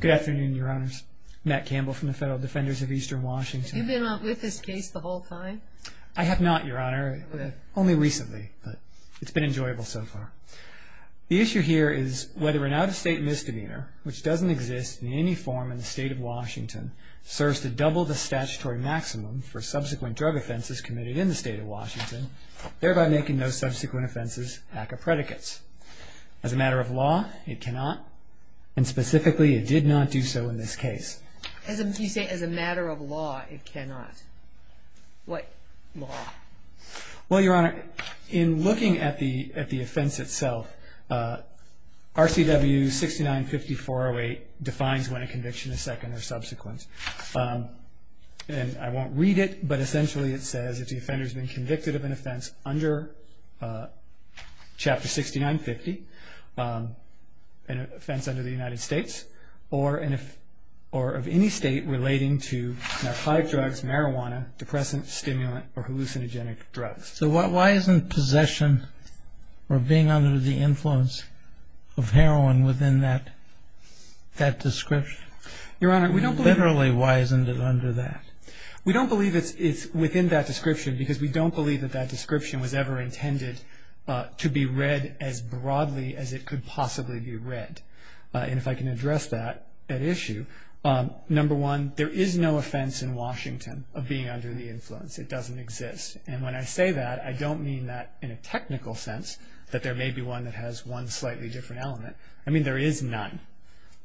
Good afternoon, Your Honors. Matt Campbell from the Federal Defenders of Eastern Washington. Have you been with this case the whole time? I have not, Your Honor, only recently, but it's been enjoyable so far. The issue here is whether an out-of-state misdemeanor, which doesn't exist in any form in the state of Washington, serves to double the statutory maximum for subsequent drug offenses committed in the state of Washington, thereby making those subsequent offenses ACCA predicates. As a matter of law, it cannot, and specifically, it did not do so in this case. As a matter of law, it cannot. What law? Well, Your Honor, in looking at the offense itself, RCW 695408 defines when a conviction is second or subsequent. And I won't read it, but essentially it says, if the offender's been convicted of an offense under Chapter 6950, an offense under the United States, or of any state relating to narcotic drugs, marijuana, depressant, stimulant, or hallucinogenic drugs. So why isn't possession or being under the influence of heroin within that description? Your Honor, we don't believe Literally, why isn't it under that? We don't believe it's within that description, because we don't believe that that description was ever intended to be read as broadly as it could possibly be read. And if I can address that issue, number one, there is no offense in Washington of being under the influence. It doesn't exist. And when I say that, I don't mean that in a technical sense, that there may be one that has one slightly different element. I mean, there is none.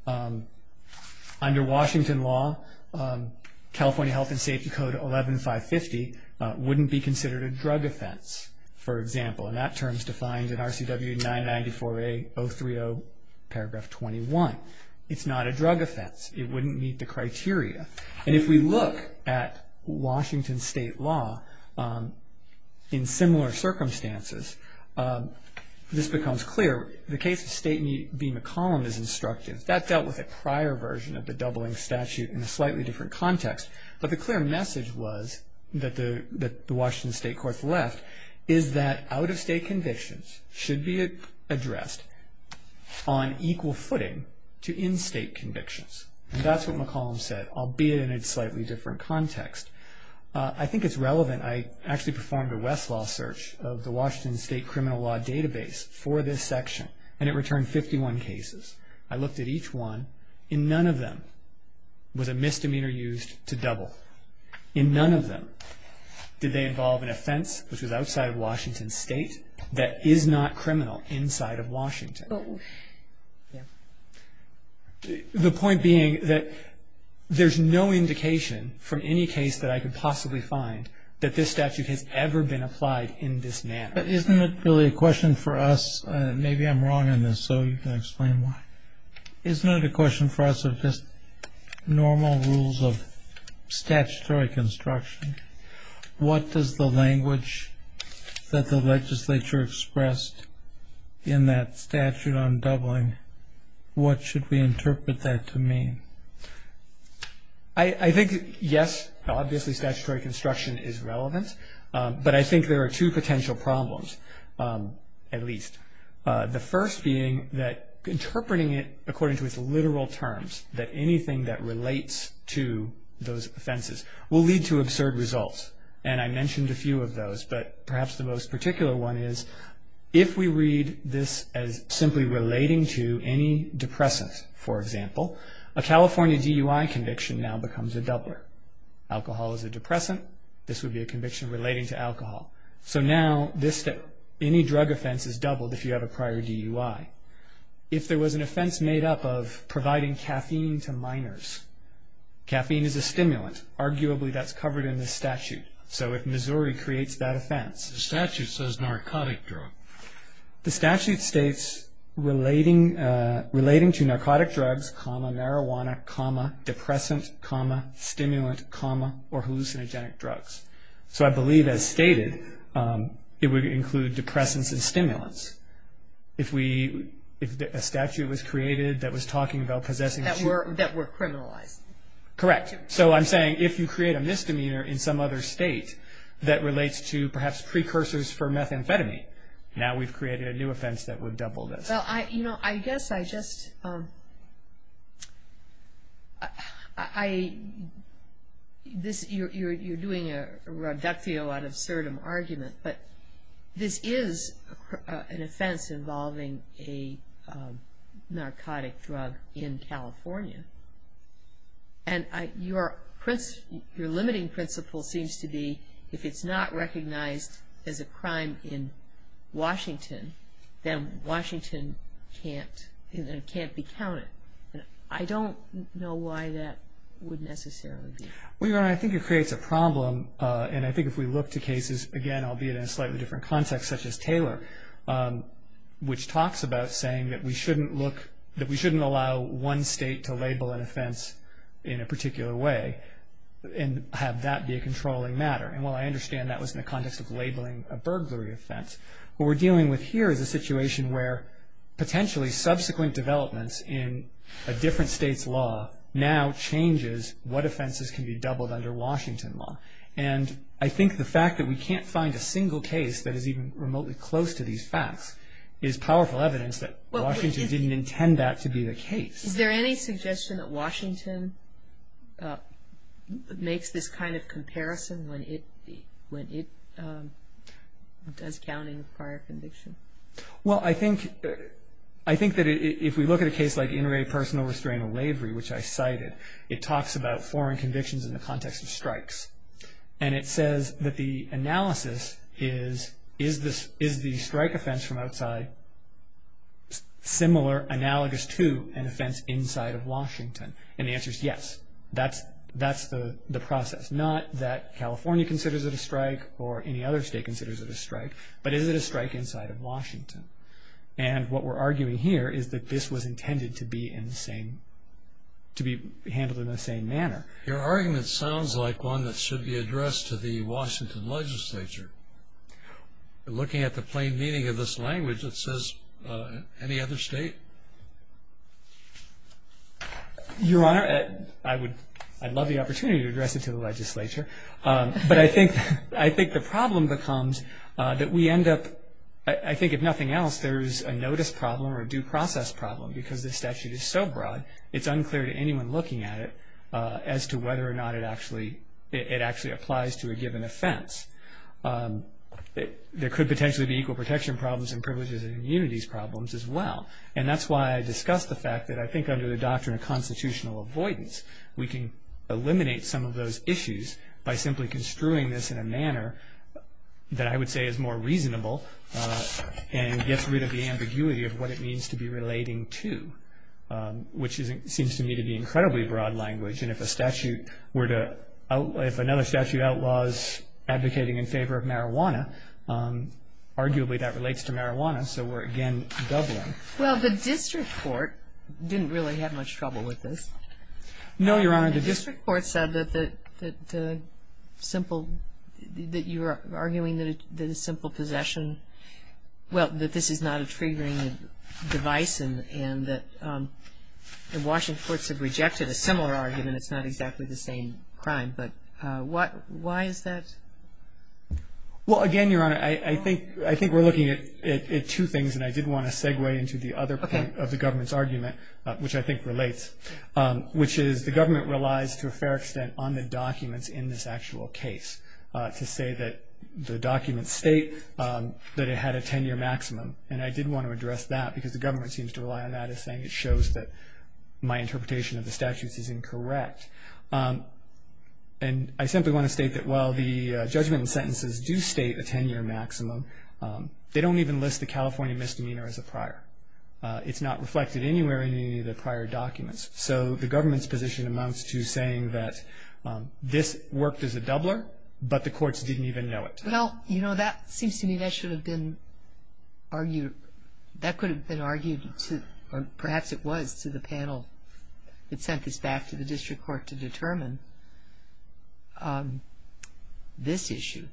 Under Washington law, California Health and Safety Code 11-550 wouldn't be considered a drug offense, for example. And that term is defined in RCW 994A 030 paragraph 21. It's not a drug offense. It wouldn't meet the criteria. And if we look at Washington state law in similar circumstances, this becomes clear. The case of State v. McCollum is instructive. That dealt with a prior version of the doubling statute in a slightly different context. But the clear message was, that the Washington state courts left, is that out-of-state convictions should be addressed on equal footing to in-state convictions. And that's what McCollum said, albeit in a slightly different context. I think it's relevant. I actually performed a Westlaw search of the Washington state criminal law database for this section. And it returned 51 cases. I looked at each one. And none of them was a misdemeanor used to double. In none of them did they involve an offense, which was outside of Washington state, that is not criminal inside of Washington. The point being that there's no indication from any case that I could possibly find that this statute has ever been applied in this manner. Isn't it really a question for us? Maybe I'm wrong on this, so you can explain why. Isn't it a question for us of just normal rules of statutory construction? What does the language that the legislature expressed in that statute on doubling, what should we interpret that to mean? I think, yes, obviously statutory construction is relevant. But I think there are two potential problems, at least. The first being that interpreting it according to its literal terms, that anything that relates to those offenses will lead to absurd results. And I mentioned a few of those, but perhaps the most particular one is if we read this as simply relating to any depressant, for example, a California DUI conviction now becomes a doubler. Alcohol is a depressant. This would be a conviction relating to alcohol. So now any drug offense is doubled if you have a prior DUI. If there was an offense made up of providing caffeine to minors, caffeine is a stimulant. Arguably that's covered in this statute. So if Missouri creates that offense. The statute says narcotic drug. The statute states relating to narcotic drugs, marijuana, depressant, stimulant, or hallucinogenic drugs. So I believe as stated, it would include depressants and stimulants. If a statute was created that was talking about possessing children. That were criminalized. Correct. So I'm saying if you create a misdemeanor in some other state that relates to perhaps precursors for methamphetamine. Now we've created a new offense that would double this. Well, you know, I guess I just – you're doing a reductio ad absurdum argument, but this is an offense involving a narcotic drug in California. And your limiting principle seems to be if it's not recognized as a crime in Washington, then Washington can't be counted. I don't know why that would necessarily be. Well, Your Honor, I think it creates a problem. And I think if we look to cases, again, albeit in a slightly different context, such as Taylor, which talks about saying that we shouldn't allow one state to label an offense in a particular way and have that be a controlling matter. And while I understand that was in the context of labeling a burglary offense, what we're dealing with here is a situation where potentially subsequent developments in a different state's law now changes what offenses can be doubled under Washington law. And I think the fact that we can't find a single case that is even remotely close to these facts is powerful evidence that Washington didn't intend that to be the case. Is there any suggestion that Washington makes this kind of comparison when it does counting of prior conviction? Well, I think that if we look at a case like intraday personal restraint or lavery, which I cited, it talks about foreign convictions in the context of strikes. And it says that the analysis is, is the strike offense from outside similar, analogous to an offense inside of Washington? And the answer is yes. That's the process. Not that California considers it a strike or any other state considers it a strike, but is it a strike inside of Washington? And what we're arguing here is that this was intended to be handled in the same manner. Your argument sounds like one that should be addressed to the Washington legislature. Looking at the plain meaning of this language, it says any other state? Your Honor, I'd love the opportunity to address it to the legislature. But I think the problem becomes that we end up, I think if nothing else, there's a notice problem or a due process problem because this statute is so broad, it's unclear to anyone looking at it as to whether or not it actually applies to a given offense. There could potentially be equal protection problems and privileges and immunities problems as well. And that's why I discussed the fact that I think under the doctrine of constitutional avoidance, we can eliminate some of those issues by simply construing this in a manner that I would say is more reasonable and gets rid of the ambiguity of what it means to be relating to, which seems to me to be incredibly broad language. And if another statute outlaws advocating in favor of marijuana, arguably that relates to marijuana, so we're again doubling. Well, the district court didn't really have much trouble with this. No, Your Honor. The district court said that the simple, that you're arguing that a simple possession, well, that this is not a triggering device and that the Washington courts have rejected a similar argument, it's not exactly the same crime, but why is that? Well, again, Your Honor, I think we're looking at two things and I did want to segue into the other point of the government's argument, which I think relates, which is the government relies to a fair extent on the documents in this actual case to say that the documents state that it had a 10-year maximum. And I did want to address that because the government seems to rely on that as saying it shows that my interpretation of the statutes is incorrect. And I simply want to state that while the judgment and sentences do state a 10-year maximum, they don't even list the California misdemeanor as a prior. It's not reflected anywhere in any of the prior documents. So the government's position amounts to saying that this worked as a doubler, but the courts didn't even know it. Well, you know, that seems to me that should have been argued, that could have been argued or perhaps it was to the panel that sent this back to the district court to determine this issue.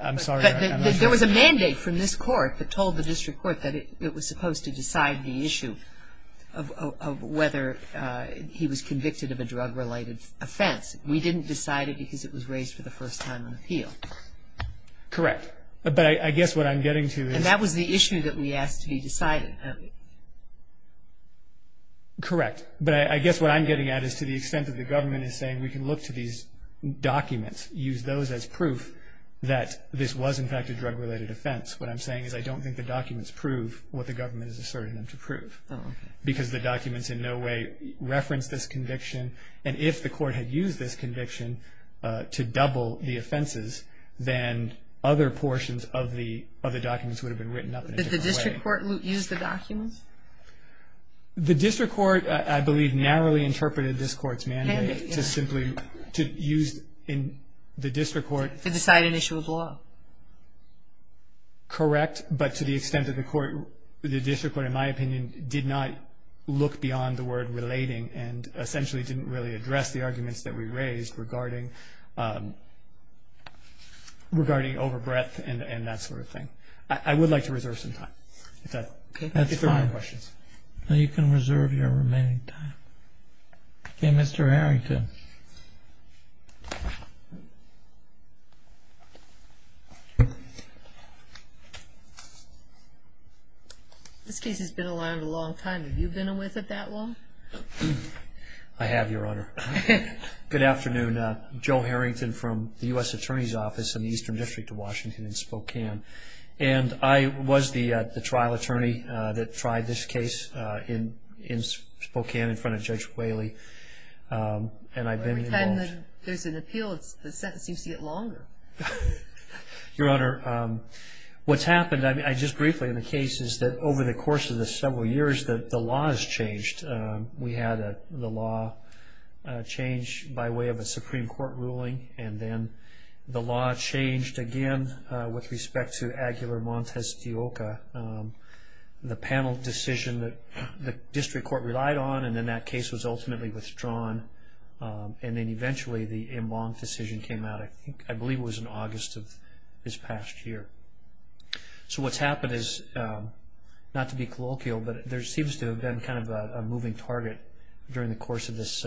I'm sorry. There was a mandate from this court that told the district court that it was supposed to decide the issue of whether he was convicted of a drug-related offense. We didn't decide it because it was raised for the first time on appeal. Correct. But I guess what I'm getting to is. And that was the issue that we asked to be decided. Correct. But I guess what I'm getting at is to the extent that the government is saying we can look to these documents, use those as proof that this was, in fact, a drug-related offense. What I'm saying is I don't think the documents prove what the government is asserting them to prove. Oh, okay. Because the documents in no way reference this conviction. And if the court had used this conviction to double the offenses, then other portions of the documents would have been written up in a different way. Did the district court use the documents? The district court, I believe, narrowly interpreted this court's mandate to simply use the district court. To decide an issue of law. Correct. But to the extent that the district court, in my opinion, did not look beyond the word relating and essentially didn't really address the arguments that we raised regarding overbreadth and that sort of thing. I would like to reserve some time. That's fine. You can reserve your remaining time. Okay, Mr. Harrington. This case has been around a long time. Have you been with it that long? I have, Your Honor. Good afternoon. Joe Harrington from the U.S. Attorney's Office in the Eastern District of Washington in Spokane. And I was the trial attorney that tried this case in Spokane in front of Judge Whaley. And I've been involved. Every time there's an appeal, the sentence seems to get longer. Your Honor, what's happened, just briefly, in the case is that over the course of the several years, the law has changed. We had the law change by way of a Supreme Court ruling. And then the law changed again with respect to Aguilar Montes de Oca. The panel decision that the district court relied on, and then that case was ultimately withdrawn. And then eventually the En Blanc decision came out. I believe it was in August of this past year. So what's happened is, not to be colloquial, but there seems to have been kind of a moving target during the course of this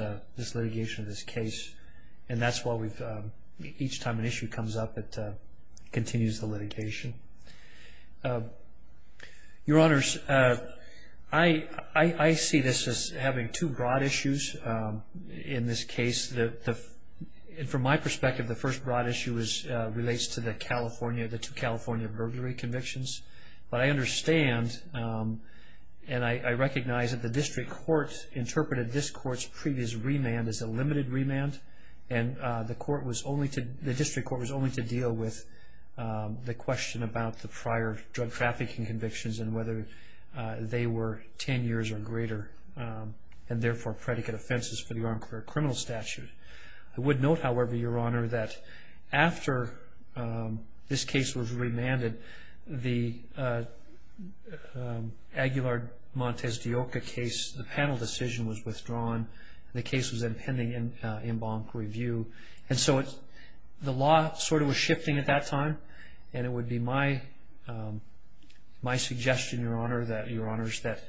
litigation of this case. And that's why each time an issue comes up, it continues the litigation. Your Honors, I see this as having two broad issues in this case. And from my perspective, the first broad issue relates to the two California burglary convictions. But I understand and I recognize that the district court interpreted this court's previous remand as a limited remand. And the district court was only to deal with the question about the prior drug trafficking convictions and whether they were 10 years or greater, and therefore predicate offenses for the armed criminal statute. I would note, however, Your Honor, that after this case was remanded, the Aguilar Montes de Oca case, the panel decision was withdrawn, and the case was in pending En Blanc review. And so the law sort of was shifting at that time. And it would be my suggestion, Your Honors, that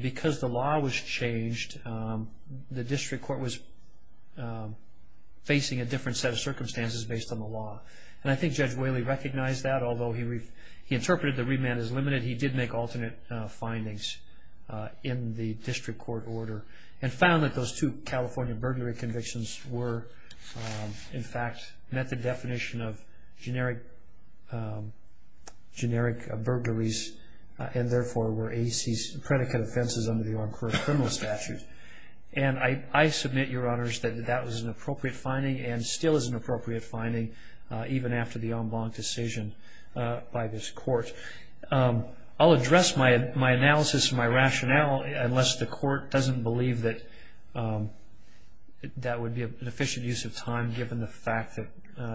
because the law was changed, the district court was facing a different set of circumstances based on the law. And I think Judge Whaley recognized that. Although he interpreted the remand as limited, he did make alternate findings in the district court order and found that those two California burglary convictions were, in fact, met the definition of generic burglaries and therefore were AC's predicate offenses under the armed criminal statute. And I submit, Your Honors, that that was an appropriate finding and still is an appropriate finding even after the En Blanc decision by this court. I'll address my analysis and my rationale unless the court doesn't believe that that would be an efficient use of time given the fact that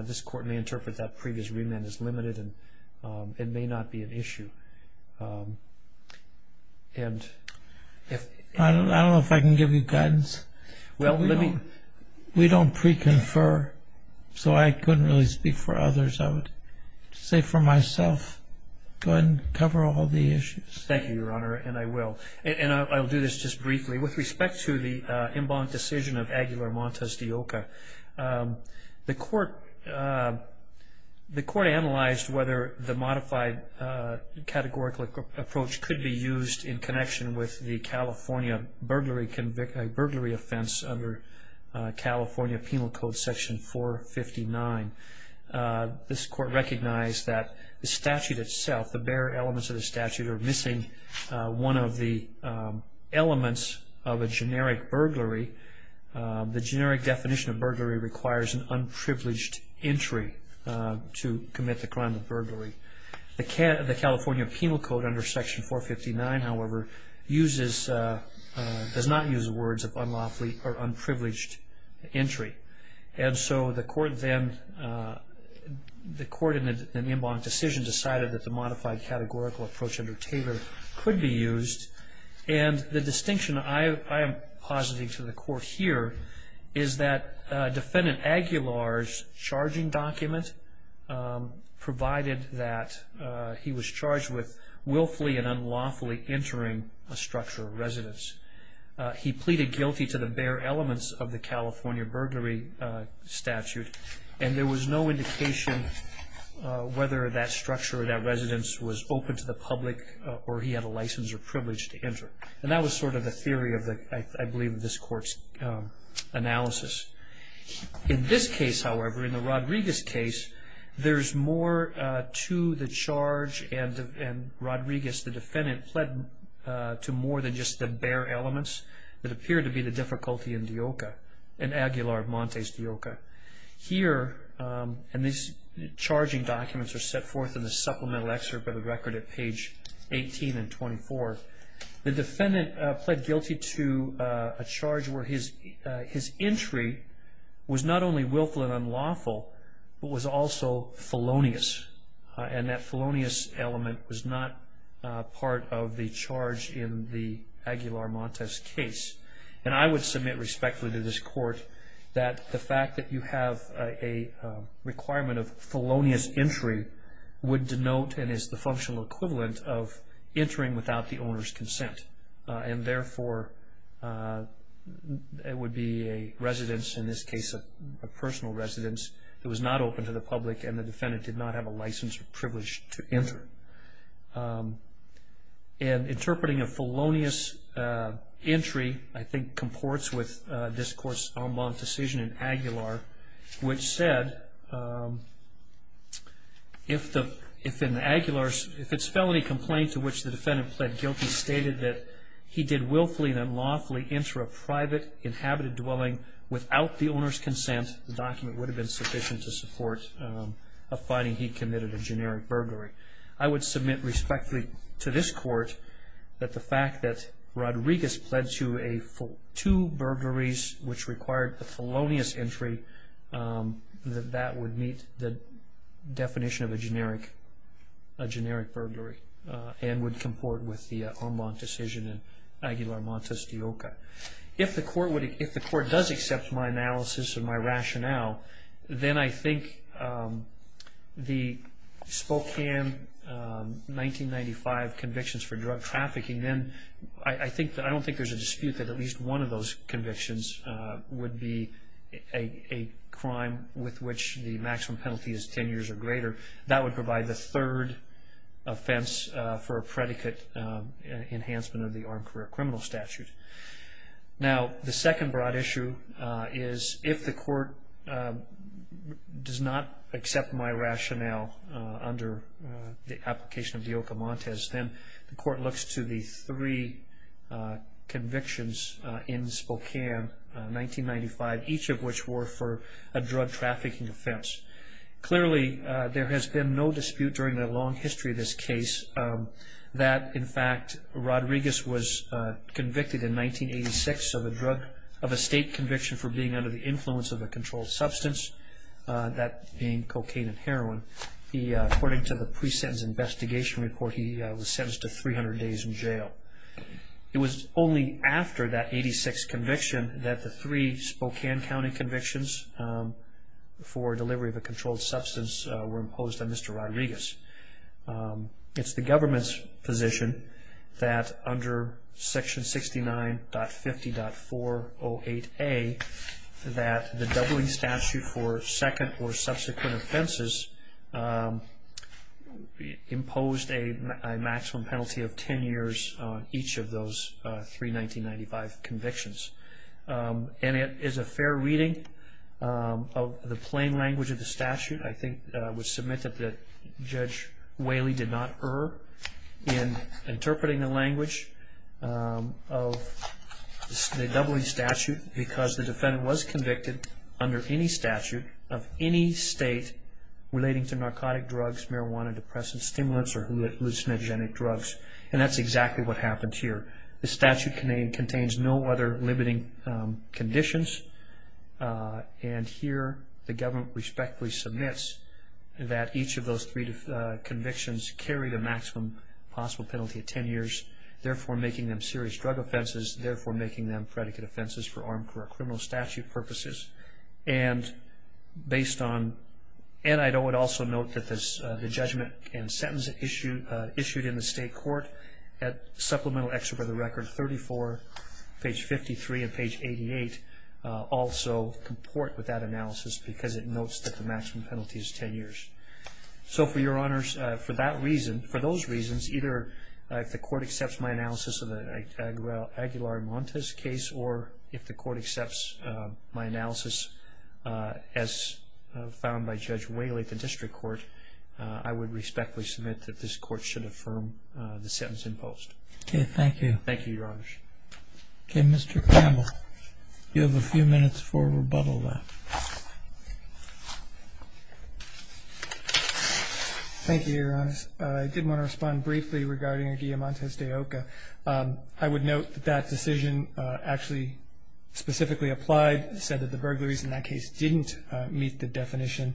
this court may interpret that previous remand as limited and it may not be an issue. I don't know if I can give you guidance. We don't pre-confer, so I couldn't really speak for others. I would say for myself, go ahead and cover all the issues. Thank you, Your Honor, and I will. And I'll do this just briefly. With respect to the En Blanc decision of Aguilar Montes de Oca, the court analyzed whether the modified categorical approach could be used in connection with the California burglary offense under California Penal Code Section 459. This court recognized that the statute itself, the bare elements of the statute, are missing one of the elements of a generic burglary. The generic definition of burglary requires an unprivileged entry to commit the crime of burglary. The California Penal Code under Section 459, however, does not use the words of unlawfully or unprivileged entry. And so the court then, the court in the En Blanc decision, decided that the modified categorical approach under Taylor could be used. And the distinction I am positing to the court here is that Defendant Aguilar's charging document provided that he was charged with willfully and unlawfully entering a structure of residence. He pleaded guilty to the bare elements of the California burglary statute. And there was no indication whether that structure or that residence was open to the public or he had a license or privilege to enter. And that was sort of the theory of the, I believe, this court's analysis. In this case, however, in the Rodriguez case, there's more to the charge and Rodriguez, the defendant, pled to more than just the bare elements. It appeared to be the difficulty in Deoca, in Aguilar Montes Deoca. Here, and these charging documents are set forth in the supplemental excerpt of the record at page 18 and 24, the defendant pled guilty to a charge where his entry was not only willful and unlawful, but was also felonious. And that felonious element was not part of the charge in the Aguilar Montes case. And I would submit respectfully to this court that the fact that you have a requirement of felonious entry would denote and is the functional equivalent of entering without the owner's consent. And therefore, it would be a residence, in this case a personal residence, that was not open to the public and the defendant did not have a license or privilege to enter. And interpreting a felonious entry, I think, comports with this court's en banc decision in Aguilar, which said if the, if in Aguilar's, if its felony complaint to which the defendant pled guilty stated that he did willfully and unlawfully enter a private inhabited dwelling without the owner's consent, the document would have been sufficient to support a finding he committed a generic burglary. I would submit respectfully to this court that the fact that Rodriguez pled to a, for two burglaries which required a felonious entry, that that would meet the definition of a generic, a generic burglary and would comport with the en banc decision in Aguilar Montes de Oca. If the court would, if the court does accept my analysis and my rationale, then I think the Spokane 1995 convictions for drug trafficking, then I think, I don't think there's a dispute that at least one of those convictions would be a crime with which the maximum penalty is ten years or greater. That would provide the third offense for a predicate enhancement of the armed career criminal statute. Now, the second broad issue is if the court does not accept my rationale under the application of De Oca Montes, then the court looks to the three convictions in Spokane 1995, each of which were for a drug trafficking offense. Clearly, there has been no dispute during the long history of this case that in fact Rodriguez was convicted in 1986 of a drug, of a state conviction for being under the influence of a controlled substance, that being cocaine and heroin. According to the pre-sentence investigation report, he was sentenced to 300 days in jail. It was only after that 86 conviction that the three Spokane County convictions for delivery of a controlled substance were imposed on Mr. Rodriguez. It's the government's position that under section 69.50.408A that the doubling statute for second or subsequent offenses imposed a maximum penalty of ten years on each of those three 1995 convictions. And it is a fair reading of the plain language of the statute. I think it was submitted that Judge Whaley did not err in interpreting the language of the doubling statute because the defendant was convicted under any statute of any state relating to narcotic drugs, marijuana, depressive stimulants, or hallucinogenic drugs. And that's exactly what happened here. The statute contains no other limiting conditions. And here the government respectfully submits that each of those three convictions carried a maximum possible penalty of ten years, therefore making them serious drug offenses, therefore making them predicate offenses for armed criminal statute purposes. And I would also note that the judgment and sentence issued in the state court at supplemental excerpt of the record 34, page 53, and page 88 also comport with that analysis because it notes that the maximum penalty is ten years. So for your honors, for that reason, for those reasons, either if the court accepts my analysis of the Aguilar-Montes case or if the court accepts my analysis as found by Judge Whaley at the district court, I would respectfully submit that this court should affirm the sentence imposed. Okay, thank you. Thank you, your honors. Okay, Mr. Campbell, you have a few minutes for rebuttal now. Thank you, your honors. I did want to respond briefly regarding Aguilar-Montes de Oca. I would note that that decision actually specifically applied, said that the burglaries in that case didn't meet the definition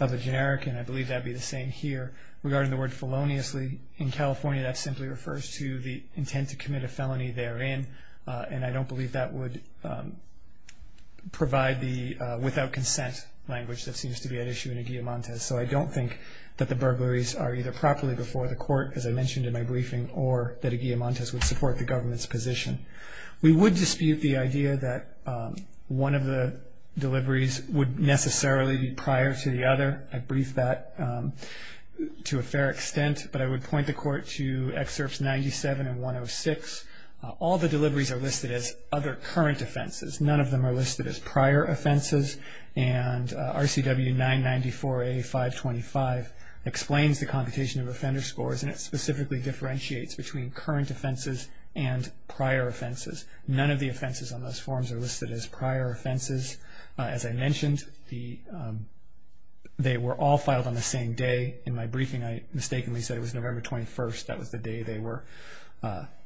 of a generic, and I believe that would be the same here. Regarding the word feloniously, in California, that simply refers to the intent to commit a felony therein, and I don't believe that would provide the without consent language that seems to be at issue in Aguilar-Montes. So I don't think that the burglaries are either properly before the court, as I mentioned in my briefing, or that Aguilar-Montes would support the government's position. We would dispute the idea that one of the deliveries would necessarily be prior to the other. I briefed that to a fair extent, but I would point the court to excerpts 97 and 106. All the deliveries are listed as other current offenses. None of them are listed as prior offenses, and RCW 994A-525 explains the computation of offender scores, and it specifically differentiates between current offenses and prior offenses. None of the offenses on those forms are listed as prior offenses. As I mentioned, they were all filed on the same day. In my briefing, I mistakenly said it was November 21st. That was the day they were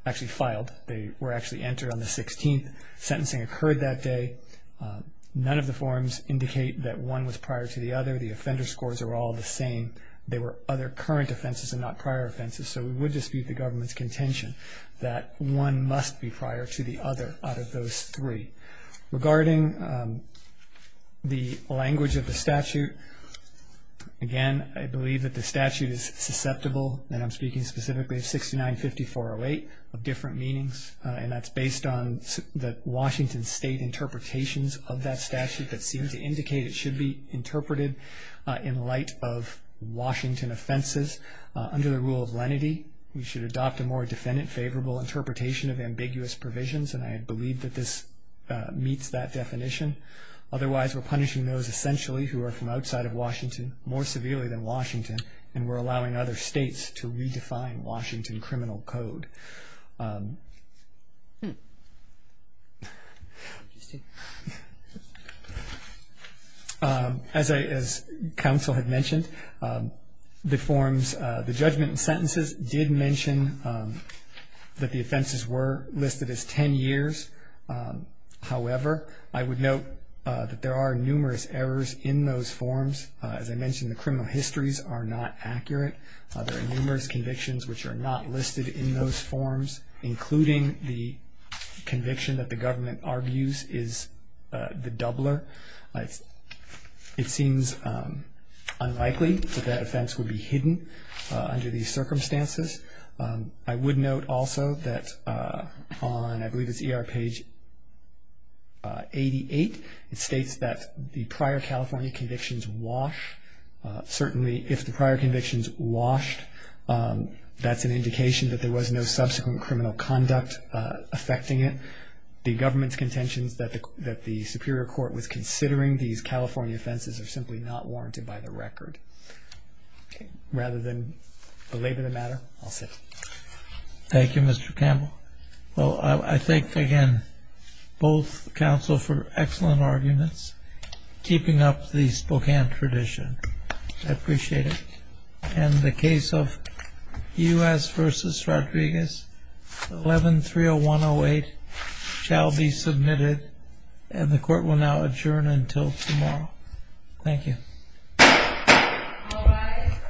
actually filed. They were actually entered on the 16th. Sentencing occurred that day. None of the forms indicate that one was prior to the other. The offender scores are all the same. They were other current offenses and not prior offenses, so we would dispute the government's contention that one must be prior to the other out of those three. Regarding the language of the statute, again, I believe that the statute is susceptible, and I'm speaking specifically of 6950-408, of different meanings, and that's based on the Washington State interpretations of that statute that seem to indicate it should be interpreted in light of Washington offenses. Under the rule of lenity, we should adopt a more defendant-favorable interpretation of ambiguous provisions, and I believe that this meets that definition. Otherwise, we're punishing those essentially who are from outside of Washington more severely than Washington, and we're allowing other states to redefine Washington criminal code. As counsel had mentioned, the forms, the judgment and sentences did mention that the offenses were listed as 10 years. However, I would note that there are numerous errors in those forms. As I mentioned, the criminal histories are not accurate. There are numerous convictions which are not listed in those forms, including the conviction that the government argues is the doubler. It seems unlikely that that offense would be hidden under these circumstances. I would note also that on, I believe it's ER page 88, it states that the prior California convictions wash. Certainly, if the prior convictions washed, that's an indication that there was no subsequent criminal conduct affecting it. The government's contentions that the superior court was considering these California offenses are simply not warranted by the record. Rather than belabor the matter, I'll sit. Thank you, Mr. Campbell. Well, I thank, again, both counsel for excellent arguments, keeping up the Spokane tradition. I appreciate it. And the case of U.S. v. Rodriguez, 11-30108, shall be submitted, and the court will now adjourn until tomorrow. Thank you. All rise.